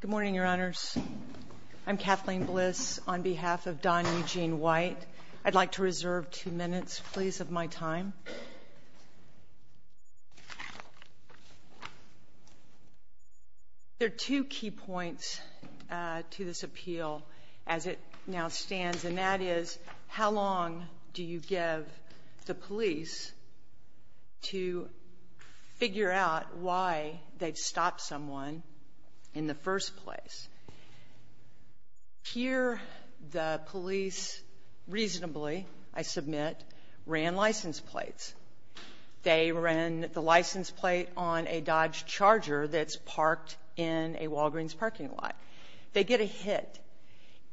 Good morning, Your Honors. I'm Kathleen Bliss on behalf of Don Eugene White. I'd like to reserve two minutes, please, of my time. There are two key points to this appeal as it now in the first place. Here, the police reasonably, I submit, ran license plates. They ran the license plate on a Dodge Charger that's parked in a Walgreens parking lot. They get a hit.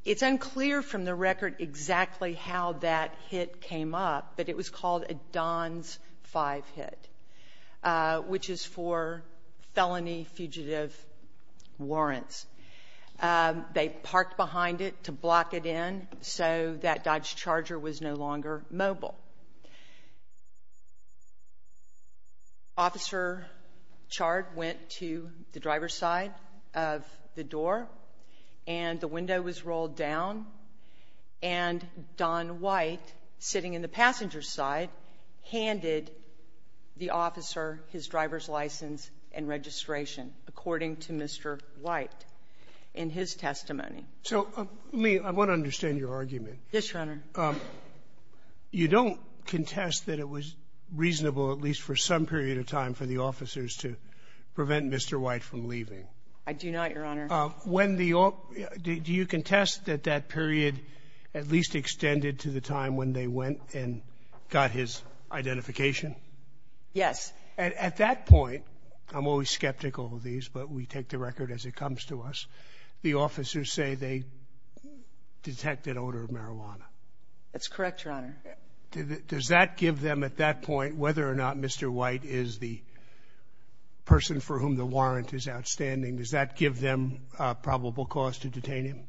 It's unclear from the record exactly how that hit came up, but it was called a Don's 5 hit, which is for felony fugitive warrants. They parked behind it to block it in so that Dodge Charger was no longer mobile. Officer Chard went to the driver's side of the door, and the window was rolled down, and Don White, sitting in the passenger's side, handed the officer his driver's license and registration, according to Mr. White in his testimony. So, Lee, I want to understand your argument. Yes, Your Honor. You don't contest that it was reasonable, at least for some period of time, for the officers to prevent Mr. White from leaving? I do not, Your Honor. When the — do you contest that that period at least extended to the time when they went and got his identification? Yes. At that point — I'm always skeptical of these, but we take the record as it comes to us — the officers say they detected odor of marijuana. That's correct, Your Honor. Does that give them, at that point, whether or not Mr. White is the person for whom the warrant is outstanding, does that give them a probable cause to detain him?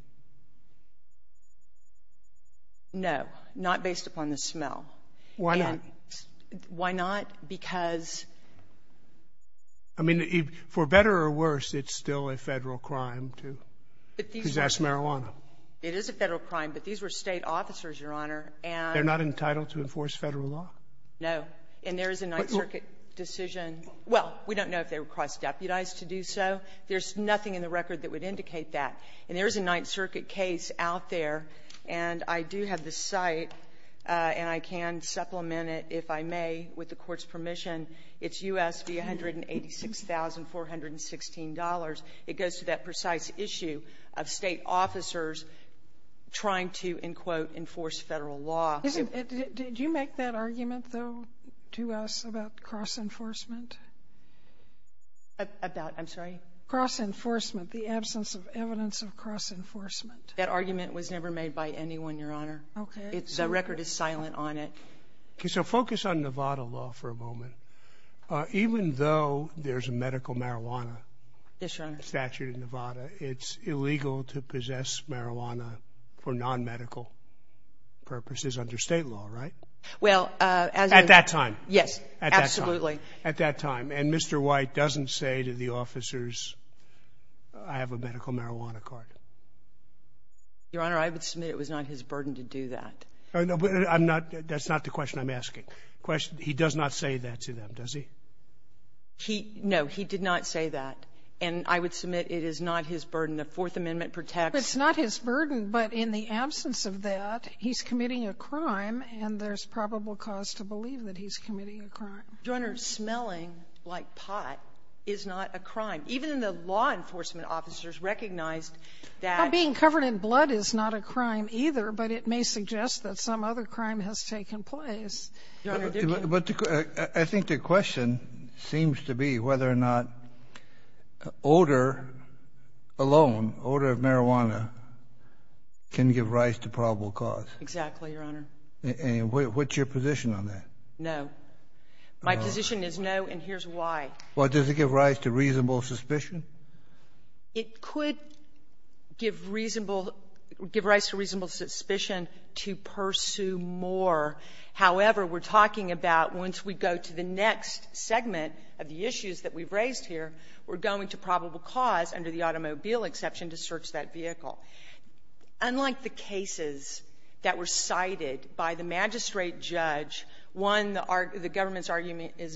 No, not based upon the smell. Why not? Why not? Because — I mean, for better or worse, it's still a Federal crime to possess marijuana. It is a Federal crime, but these were State officers, Your Honor, and — They're not entitled to enforce Federal law? No. And there is a Ninth Circuit decision — well, we don't know if they were cross-deputized to do so. There's nothing in the record that would indicate that. And there is a Ninth Circuit case out there, and I do have the site, and I can supplement it, if I may, with the Court's permission. It's U.S. v. $186,416. It goes to that precise issue of State officers trying to, in quote, enforce Federal law. Did you make that argument, though, to us about cross-enforcement? About? I'm sorry? Cross-enforcement, the absence of evidence of cross-enforcement. That argument was never made by anyone, Your Honor. Okay. The record is silent on it. Okay, so focus on Nevada law for a moment. Even though there's a medical marijuana — Yes, Your Honor. — statute in Nevada, it's illegal to possess marijuana for non-medical purposes under State law, right? Well, as — At that time. Yes, absolutely. At that time. At that time. And Mr. White doesn't say to the officers, I have a medical marijuana card? Your Honor, I would submit it was not his burden to do that. I'm not — that's not the question I'm asking. The question — he does not say that to them, does he? He — no, he did not say that. And I would submit it is not his burden. The Fourth Amendment protects — It's not his burden, but in the absence of that, he's committing a crime, and there's probable cause to believe that he's committing a crime. Your Honor, smelling like pot is not a crime. Even the law enforcement officers recognized that — And being covered in blood is not a crime either, but it may suggest that some other crime has taken place. Your Honor — But I think the question seems to be whether or not odor alone, odor of marijuana, can give rise to probable cause. Exactly, Your Honor. And what's your position on that? No. My position is no, and here's why. Well, does it give rise to reasonable suspicion? It could give reasonable — give rise to reasonable suspicion to pursue more. However, we're talking about once we go to the next segment of the issues that we've raised here, we're going to probable cause under the automobile exception to search that vehicle. Unlike the cases that were cited by the magistrate judge, one, the government's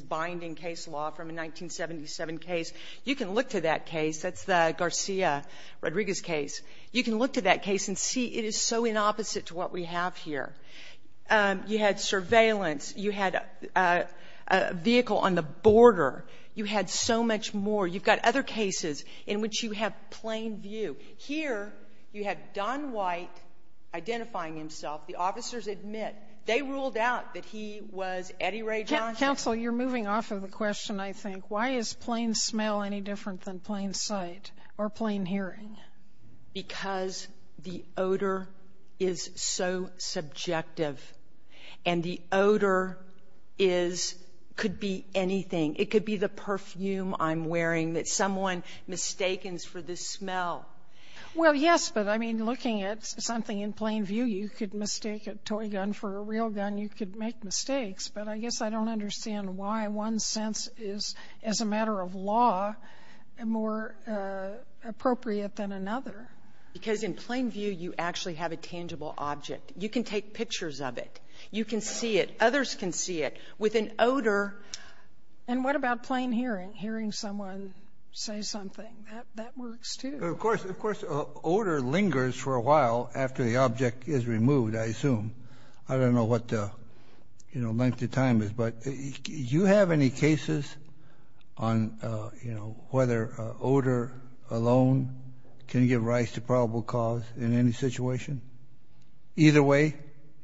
binding case law from a 1977 case, you can look to that case. That's the Garcia-Rodriguez case. You can look to that case and see it is so inopposite to what we have here. You had surveillance. You had a vehicle on the border. You had so much more. You've got other cases in which you have plain view. Here, you had Don White identifying himself. The officers admit they ruled out that he was Eddie Ray Johnson. Counsel, you're moving off of a question, I think. Why is plain smell any different than plain sight or plain hearing? Because the odor is so subjective, and the odor is — could be anything. It could be the perfume I'm wearing that someone mistakens for the smell. Well, yes, but, I mean, looking at something in plain view, you could mistake a toy gun for a real gun. You could make mistakes. But I guess I don't understand why one sense is, as a matter of law, more appropriate than another. Because in plain view, you actually have a tangible object. You can take pictures of it. You can see it. Others can see it. With an odor — And what about plain hearing, hearing someone say something? That works, too. Of course, odor lingers for a while after the object is removed, I assume. I don't know what the length of time is, but do you have any cases on whether odor alone can give rise to probable cause in any situation? Either way,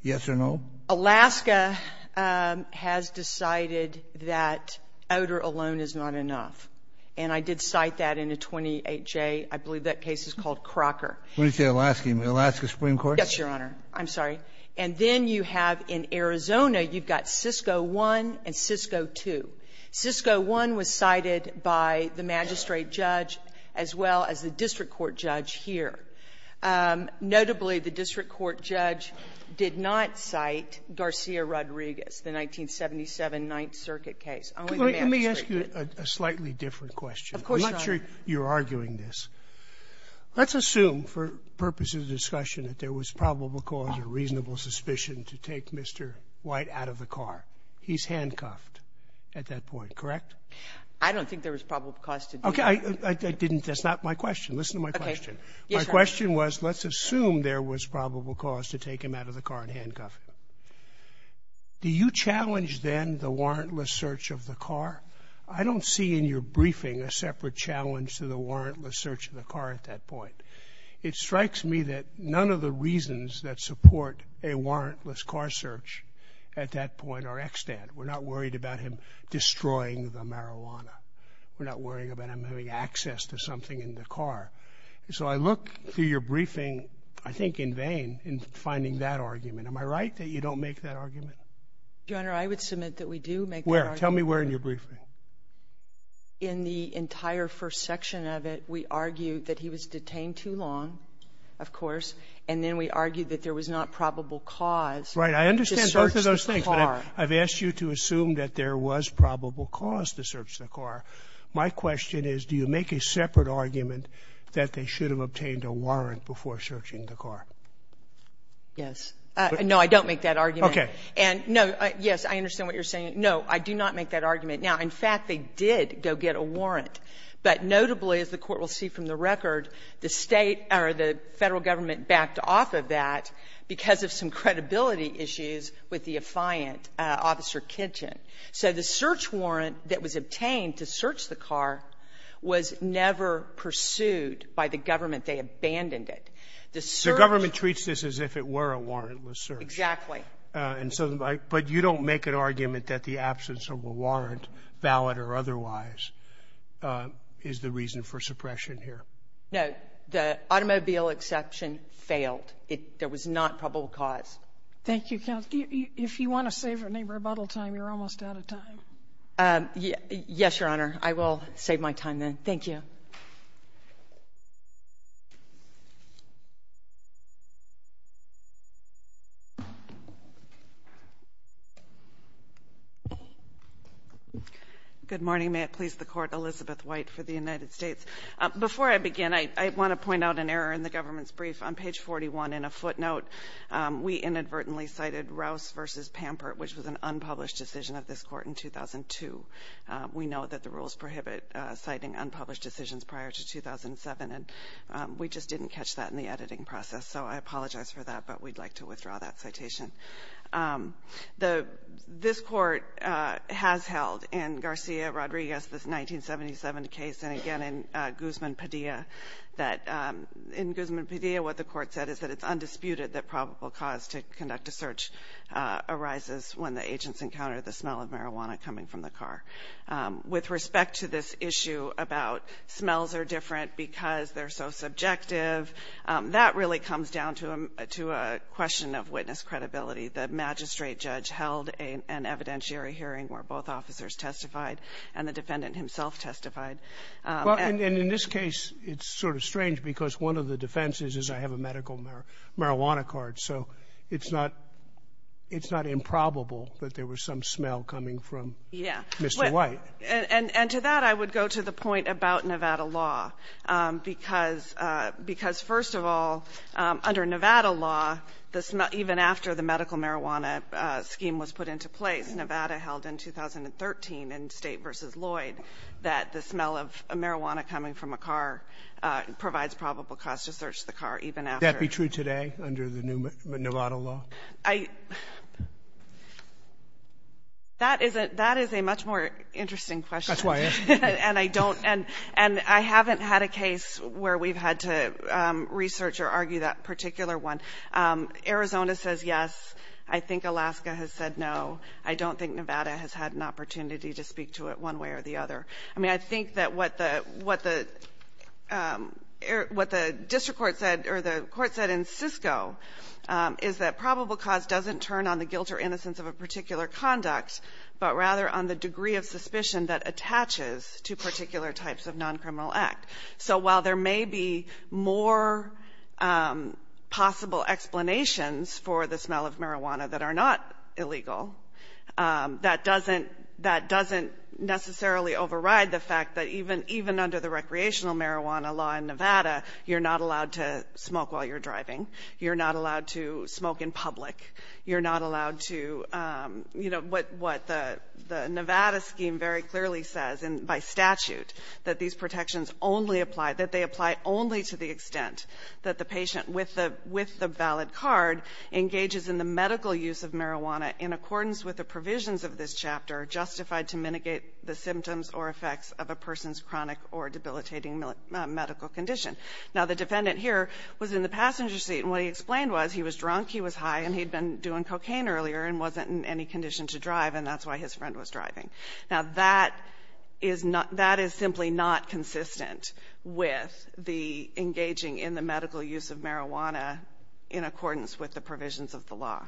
yes or no? Alaska has decided that odor alone is not enough. And I did cite that in a 28J. I believe that case is called Crocker. When you say Alaska, you mean Alaska Supreme Court? Yes, Your Honor. I'm sorry. And then you have in Arizona, you've got Cisco I and Cisco II. Cisco I was cited by the magistrate judge as well as the district court judge here. Notably, the district court judge did not cite Garcia-Rodriguez, the 1977 Ninth Circuit case. Only the magistrate did. Let me ask you a slightly different question. Of course, Your Honor. I'm not sure you're arguing this. Let's assume, for purposes of discussion, that there was probable cause or reasonable suspicion to take Mr. White out of the car. He's handcuffed at that point, correct? I don't think there was probable cause to do that. Okay. I didn't — that's not my question. Listen to my question. Okay. Yes, Your Honor. My question was, let's assume there was probable cause to take him out of the car and handcuff him. Do you challenge then the warrantless search of the car? I don't see in your briefing a separate challenge to the warrantless search of the car at that point. It strikes me that none of the reasons that support a warrantless car search at that point are extant. We're not worried about him destroying the marijuana. We're not worried about him having access to something in the car. So I look through your briefing, I think in vain, in finding that argument. Am I right that you don't make that argument? Your Honor, I would submit that we do make that argument. Where? Tell me where in your briefing. In the entire first section of it, we argue that he was detained too long, of course, and then we argue that there was not probable cause to search the car. Right. I understand both of those things, but I've asked you to assume that there was probable cause to search the car. My question is, do you make a separate argument that they should have obtained a warrant before searching the car? Yes. No, I don't make that argument. Okay. And no, yes, I understand what you're saying. No, I do not make that argument. Now, in fact, they did go get a warrant, but notably, as the Court will see from the record, the State or the Federal Government backed off of that because of some credibility issues with the affiant, Officer Kitchen. So the search warrant that was obtained to search the car was never pursued by the government. They abandoned it. The search ---- The government treats this as if it were a warrantless search. Exactly. And so the ---- but you don't make an argument that the absence of a warrant, valid or otherwise, is the reason for suppression here. No. The automobile exception failed. It ---- there was not probable cause. Thank you, counsel. If you want to save any rebuttal time, you're almost out of time. Yes, Your Honor. I will save my time then. Thank you. Good morning. May it please the Court. Elizabeth White for the United States. Before I begin, I want to point out an error in the government's brief. On page 41 in a footnote, we inadvertently cited Rouse v. Pampert, which was an unpublished decision of this Court in 2002. We know that the rules prohibit citing unpublished decisions prior to 2007, and we just didn't catch that in the editing process. So I apologize for that, but we'd like to withdraw that citation. The ---- this Court has held in Garcia Rodriguez, this 1977 case, and again in Guzman Padilla that ---- in Guzman Padilla, what the Court said is that it's undisputed that probable cause to conduct a search arises when the agents encounter the smell of marijuana coming from the car. With respect to this issue about smells are different because they're so subjective, that really comes down to a question of witness credibility. The magistrate judge held an evidentiary hearing where both officers testified and the defendant himself testified. And in this case, it's sort of strange because one of the defenses is I have a medical marijuana card, so it's not improbable that there was some smell coming from Mr. White. And to that, I would go to the point about Nevada law, because first of all, under Nevada law, even after the medical marijuana scheme was put into place, Nevada held in 2013 in State v. Lloyd that the smell of marijuana coming from a car provides probable cause to search the car, even after ---- That be true today under the new Nevada law? I ---- that is a much more interesting question. That's why I asked. And I don't ---- and I haven't had a case where we've had to research or argue that particular one. Arizona says yes. I think Alaska has said no. I don't think Nevada has had an opportunity to speak to it one way or the other. I mean, I think that what the ---- what the district court said or the court said in Sisco is that probable cause doesn't turn on the guilt or innocence of a particular conduct, but rather on the degree of suspicion that attaches to particular types of noncriminal act. So while there may be more possible explanations for the smell of marijuana that are not illegal, that doesn't ---- that doesn't necessarily override the fact that even under the recreational marijuana law in Nevada, you're not allowed to smoke while you're driving. You're not allowed to smoke in public. You're not allowed to, you know, what the Nevada scheme very clearly says by statute that these protections only apply, that they apply only to the extent that the patient with the valid card engages in the medical use of marijuana in accordance with the provisions of this chapter justified to mitigate the symptoms or effects of a person's chronic or debilitating medical condition. Now, the defendant here was in the passenger seat, and what he explained was he was drunk, he was high, and he'd been doing cocaine earlier and wasn't in any condition Now, that is not ---- that is simply not consistent with the engaging in the medical use of marijuana in accordance with the provisions of the law.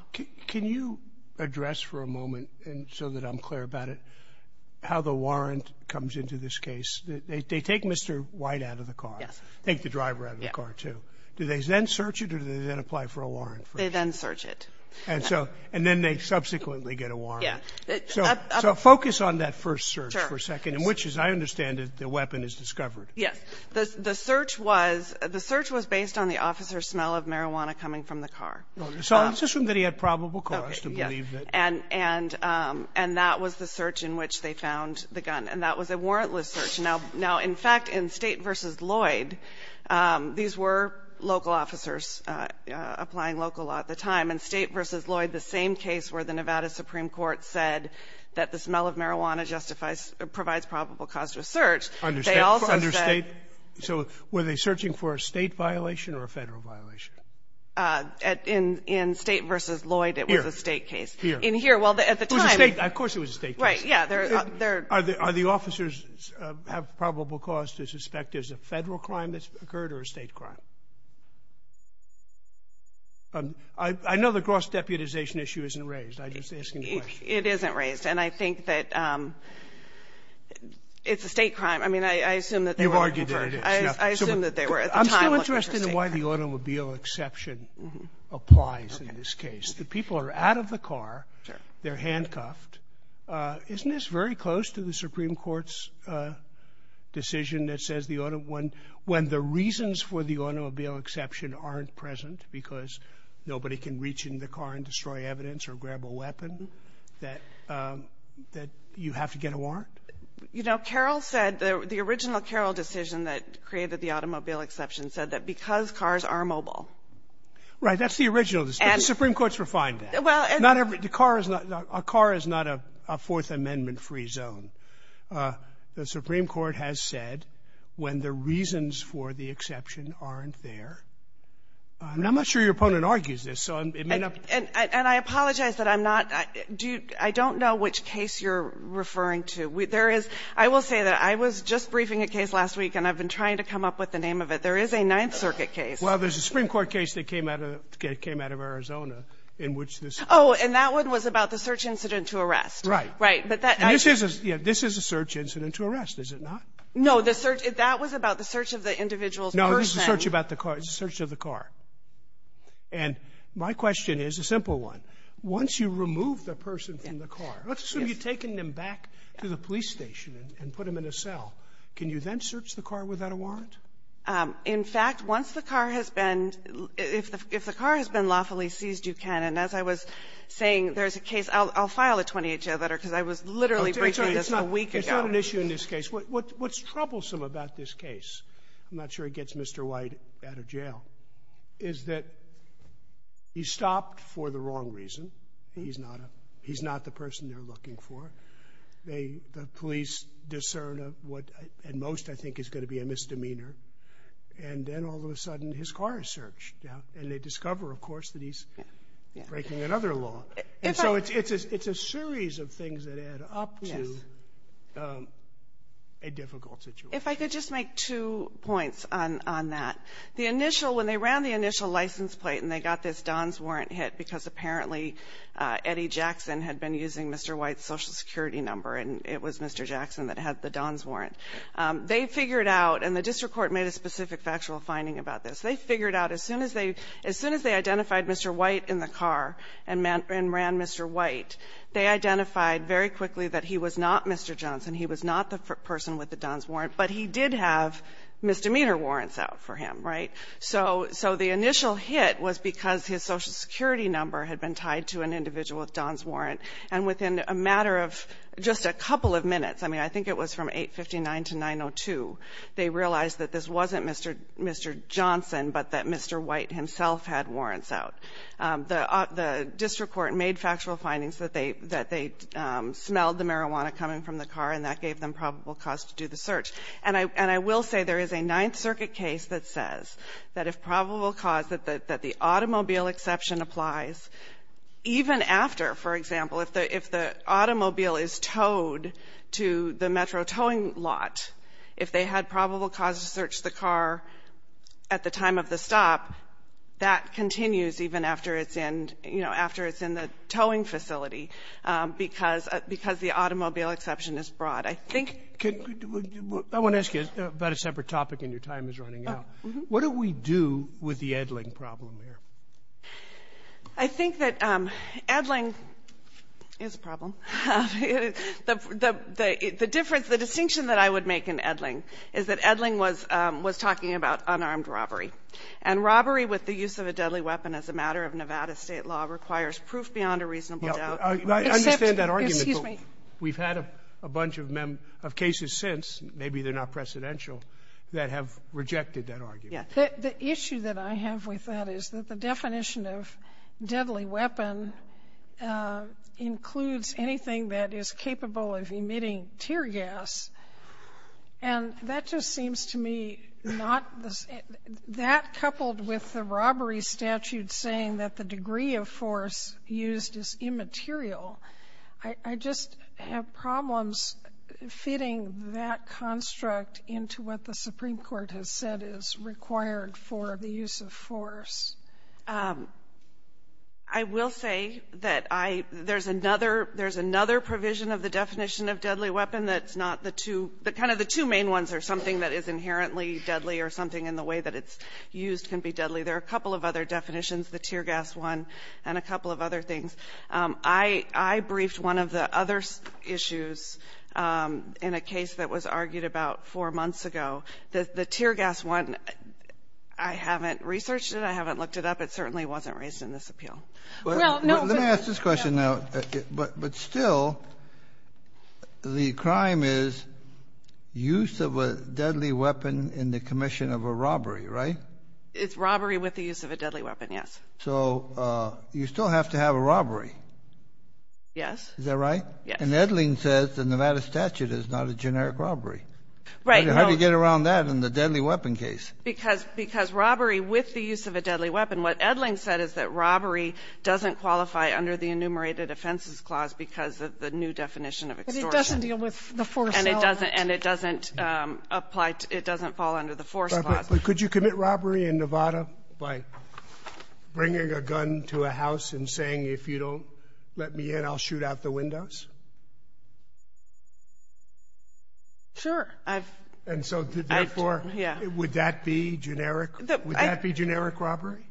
Can you address for a moment, so that I'm clear about it, how the warrant comes into this case? They take Mr. White out of the car. Yes. Take the driver out of the car, too. Do they then search it, or do they then apply for a warrant? They then search it. And so ---- and then they subsequently get a warrant. Yes. So focus on that first search for a second. Sure. In which, as I understand it, the weapon is discovered. Yes. The search was ---- the search was based on the officer's smell of marijuana coming from the car. So it's assumed that he had probable cause to believe that. Okay. Yes. And that was the search in which they found the gun. And that was a warrantless search. Now, in fact, in State v. Lloyd, these were local officers applying local law at the time, and they said that the smell of marijuana justifies or provides probable cause to a search. They also said ---- Under State? So were they searching for a State violation or a Federal violation? In State v. Lloyd, it was a State case. Here. Here. In here. Well, at the time ---- It was a State. Of course it was a State case. Right. Yes. They're ---- Are the officers have probable cause to suspect there's a Federal crime that's occurred or a State crime? I know the gross deputization issue isn't raised. I'm just asking the question. Yes. It isn't raised. And I think that it's a State crime. I mean, I assume that they were ---- They've argued that it is. I assume that they were at the time looking for a State crime. I'm still interested in why the automobile exception applies in this case. Okay. The people are out of the car. Sure. They're handcuffed. Isn't this very close to the Supreme Court's decision that says the automobile ---- when the reasons for the automobile exception aren't present because nobody can reach in the car and destroy evidence or grab a weapon, that you have to get a warrant? You know, Carroll said the original Carroll decision that created the automobile exception said that because cars are mobile. Right. That's the original decision. And ---- The Supreme Court's refined that. Well, and ---- Not every ---- The car is not a Fourth Amendment-free zone. The Supreme Court has said when the reasons for the exception aren't there. I'm not sure your opponent argues this. So it may not ---- And I apologize that I'm not ---- I don't know which case you're referring to. There is ---- I will say that I was just briefing a case last week, and I've been trying to come up with the name of it. There is a Ninth Circuit case. Well, there's a Supreme Court case that came out of Arizona in which this ---- Oh, and that one was about the search incident to arrest. Right. Right. But that ---- This is a search incident to arrest, is it not? No. The search ---- That was about the search of the individual's person. No, this is a search about the car. It's a search of the car. And my question is a simple one. Once you remove the person from the car, let's assume you've taken them back to the police station and put them in a cell. Can you then search the car without a warrant? In fact, once the car has been ---- if the car has been lawfully seized, you can. And as I was saying, there's a case ---- I'll file a 20-HL letter because I was literally briefing this a week ago. It's not an issue in this case. What's troublesome about this case? I'm not sure it gets Mr. White out of jail, is that he stopped for the wrong reason. He's not a ---- He's not the person they're looking for. The police discern what at most I think is going to be a misdemeanor. And then all of a sudden, his car is searched. And they discover, of course, that he's breaking another law. And so it's a series of things that add up to a difficult situation. If I could just make two points on that. The initial ---- when they ran the initial license plate and they got this Don's warrant hit because apparently Eddie Jackson had been using Mr. White's Social Security number and it was Mr. Jackson that had the Don's warrant, they figured out ---- and the district court made a specific factual finding about this. They figured out as soon as they identified Mr. White in the car and ran Mr. White, they identified very quickly that he was not Mr. Johnson, he was not the person with the Don's warrant, but he did have misdemeanor warrants out for him, right? So the initial hit was because his Social Security number had been tied to an individual with Don's warrant, and within a matter of just a couple of minutes, I mean, I think it was from 859 to 902, they realized that this wasn't Mr. Johnson but that Mr. White himself had warrants out. The district court made factual findings that they smelled the marijuana coming from the car and that gave them probable cause to do the search. And I will say there is a Ninth Circuit case that says that if probable cause that the automobile exception applies, even after, for example, if the automobile is towed to the Metro towing lot, if they had probable cause to search the car at the time of the stop, that continues even after it's in, you know, after it's in the towing facility because the automobile exception is broad. I think... I want to ask you about a separate topic and your time is running out. What do we do with the Edling problem here? I think that Edling is a problem. The difference, the distinction that I would make in Edling is that Edling was talking about unarmed robbery. And robbery with the use of a deadly weapon as a matter of Nevada state law requires proof beyond a reasonable doubt. I understand that argument. We've had a bunch of cases since, maybe they're not precedential, that have rejected that argument. The issue that I have with that is that the definition of deadly weapon includes anything that is capable of emitting tear gas. And that just seems to me not the same. The definition of deadly weapon is used as immaterial. I just have problems fitting that construct into what the Supreme Court has said is required for the use of force. I will say that I — there's another — there's another provision of the definition of deadly weapon that's not the two — that kind of the two main ones are something that is inherently deadly or something in the way that it's used can be deadly. There are a couple of other definitions, the tear gas one and a couple of other things. I briefed one of the other issues in a case that was argued about four months ago. The tear gas one, I haven't researched it. I haven't looked it up. It certainly wasn't raised in this appeal. Let me ask this question now. But still, the crime is use of a deadly weapon in the commission of a robbery, right? It's robbery with the use of a deadly weapon, yes. So you still have to have a robbery? Yes. Is that right? Yes. And Edling says the Nevada statute is not a generic robbery. Right. How do you get around that in the deadly weapon case? Because — because robbery with the use of a deadly weapon, what Edling said is that robbery doesn't qualify under the enumerated offenses clause because of the new definition of extortion. But it doesn't deal with the force element. And it doesn't — and it doesn't apply to — it doesn't fall under the force clause. But could you commit robbery in Nevada by bringing a gun to a house and saying, if you don't let me in, I'll shoot out the windows? Sure. I've — And so therefore — Yeah. Would that be generic? Would that be generic robbery?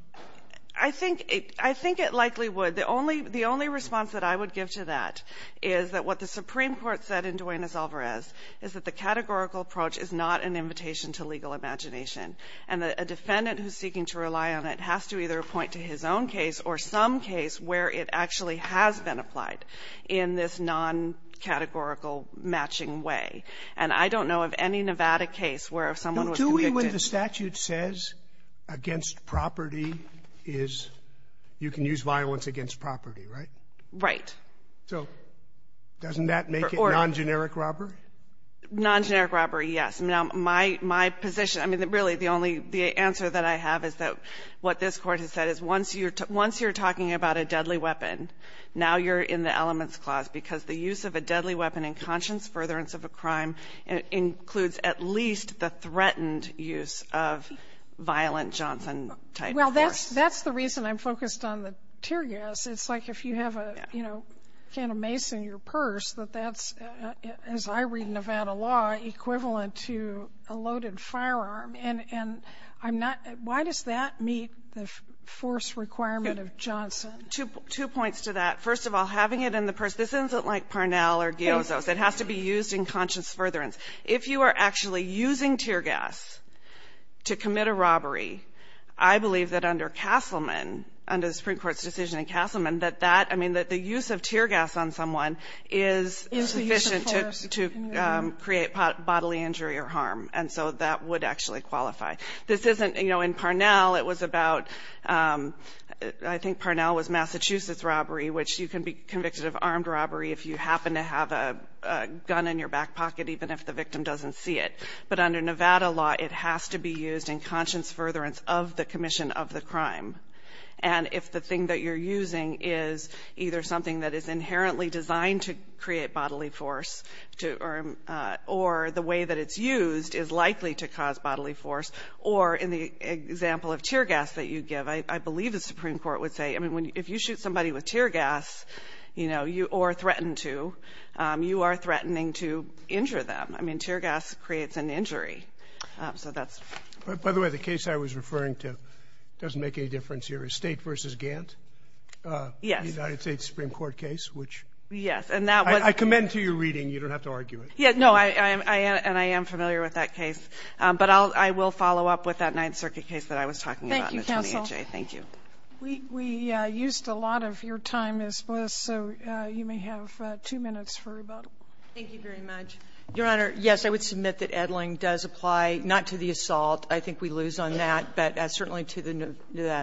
I think — I think it likely would. The only — the only response that I would give to that is that what the Supreme Court said in Duenas-Alvarez is that the categorical approach is not an invitation to legal imagination. And a defendant who's seeking to rely on it has to either point to his own case or some case where it actually has been applied in this non-categorical matching way. And I don't know of any Nevada case where if someone was convicted — Do we, when the statute says against property is — you can use violence against property, right? Right. So doesn't that make it non-generic robbery? Non-generic robbery, yes. Now, my — my position — I mean, really, the only — the answer that I have is that what this Court has said is once you're — once you're talking about a deadly weapon, now you're in the elements clause, because the use of a deadly weapon in conscience furtherance of a crime includes at least the threatened use of violent Johnson-type force. Well, that's — that's the reason I'm focused on the tear gas. It's like if you have a, you know, can of mace in your purse, that that's, as I read in Nevada law, equivalent to a loaded firearm. And I'm not — why does that meet the force requirement of Johnson? Two points to that. First of all, having it in the purse, this isn't like Parnell or Giozzo's. It has to be used in conscience furtherance. If you are actually using tear gas to commit a robbery, I believe that under Castleman, under the Supreme Court's decision in Castleman, that that — I mean, that the use of tear gas on someone is sufficient to — to create bodily injury or harm. And so that would actually qualify. This isn't — you know, in Parnell, it was about — I think Parnell was Massachusetts robbery, which you can be convicted of armed robbery if you happen to have a gun in your back pocket, even if the victim doesn't see it. But under Nevada law, it has to be used in conscience furtherance of the commission of the crime. And if the thing that you're using is either something that is inherently designed to create bodily force or the way that it's used is likely to cause bodily force, or in the example of tear gas that you give, I believe the Supreme Court would say — I mean, if you shoot somebody with tear gas, you know, or threaten to, you are threatening to injure them. I mean, tear gas creates an injury. So that's — By the way, the case I was referring to doesn't make any difference here. State versus Gant? Yes. The United States Supreme Court case, which — Yes. And that was — I commend to your reading. You don't have to argue it. Yeah. No. I am — and I am familiar with that case. But I will follow up with that Ninth Circuit case that I was talking about in the 2018. Thank you, counsel. Thank you. We used a lot of your time, Ms. Bliss, so you may have two minutes for rebuttal. Thank you very much. Your Honor, yes, I would submit that Edling does apply not to the assault. I think we lose on that. But certainly to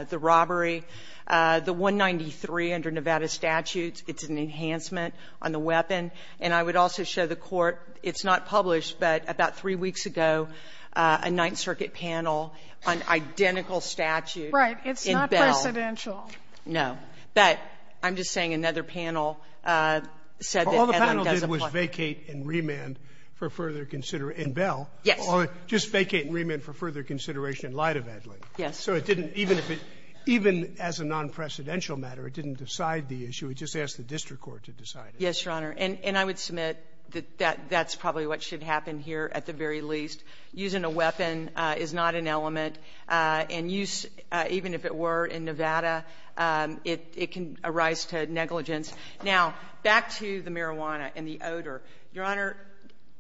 the robbery. The 193 under Nevada statutes, it's an enhancement on the weapon. And I would also show the Court, it's not published, but about three weeks ago, a Ninth Circuit panel on identical statute in Bell. Right. It's not presidential. But I'm just saying another panel said that Edling does apply. All the panel did was vacate and remand for further — in Bell. Yes. Well, just vacate and remand for further consideration in light of Edling. Yes. So it didn't — even if it — even as a nonpresidential matter, it didn't decide the issue. It just asked the district court to decide it. Yes, Your Honor. And I would submit that that's probably what should happen here at the very least. Using a weapon is not an element. And use — even if it were in Nevada, it can arise to negligence. Now, back to the marijuana and the odor. Your Honor,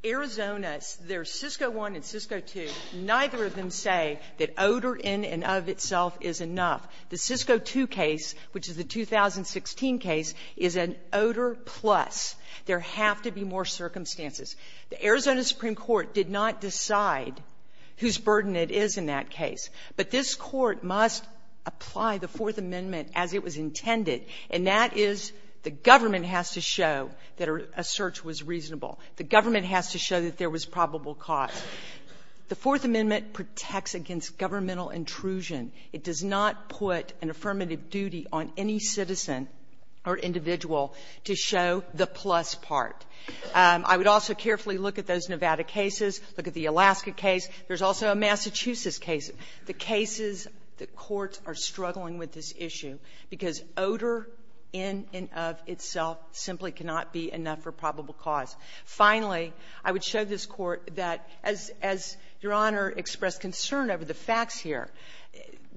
Arizona, there's CISCO I and CISCO II. Neither of them say that odor in and of itself is enough. The CISCO II case, which is the 2016 case, is an odor plus. There have to be more circumstances. The Arizona Supreme Court did not decide whose burden it is in that case. But this Court must apply the Fourth Amendment as it was intended, and that is the The government has to show that there was probable cause. The Fourth Amendment protects against governmental intrusion. It does not put an affirmative duty on any citizen or individual to show the plus part. I would also carefully look at those Nevada cases, look at the Alaska case. There's also a Massachusetts case. The cases, the courts are struggling with this issue because odor in and of itself simply cannot be enough for probable cause. Finally, I would show this Court that, as Your Honor expressed concern over the facts here,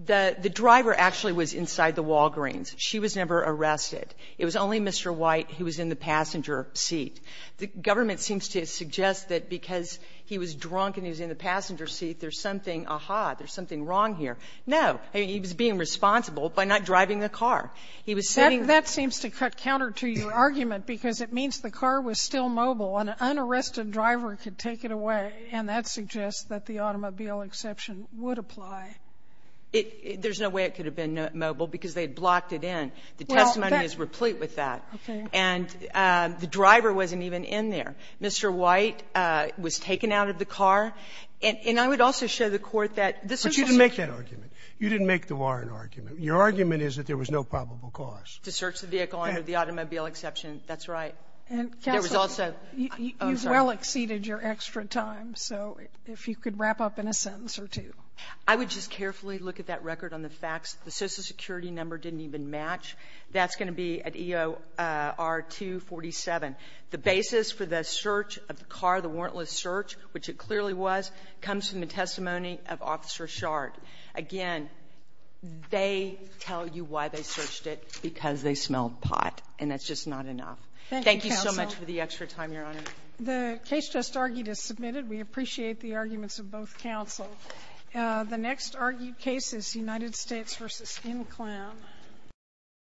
the driver actually was inside the Walgreens. She was never arrested. It was only Mr. White who was in the passenger seat. The government seems to suggest that because he was drunk and he was in the passenger seat, there's something, aha, there's something wrong here. No. He was being responsible by not driving the car. He was sitting — Sotomayor's argument, because it means the car was still mobile and an unarrested driver could take it away, and that suggests that the automobile exception would apply. There's no way it could have been mobile because they had blocked it in. The testimony is replete with that. Okay. And the driver wasn't even in there. Mr. White was taken out of the car. And I would also show the Court that this is — But you didn't make that argument. You didn't make the Warren argument. Your argument is that there was no probable cause. To search the vehicle under the automobile exception. That's right. And there was also — You've well exceeded your extra time. So if you could wrap up in a sentence or two. I would just carefully look at that record on the facts. The Social Security number didn't even match. That's going to be at EOR247. The basis for the search of the car, the warrantless search, which it clearly was, comes from the testimony of Officer Shard. Again, they tell you why they searched it. Because they smelled pot. And that's just not enough. Thank you so much for the extra time, Your Honor. The case just argued is submitted. We appreciate the arguments of both counsel. The next argued case is United States v. Inclam.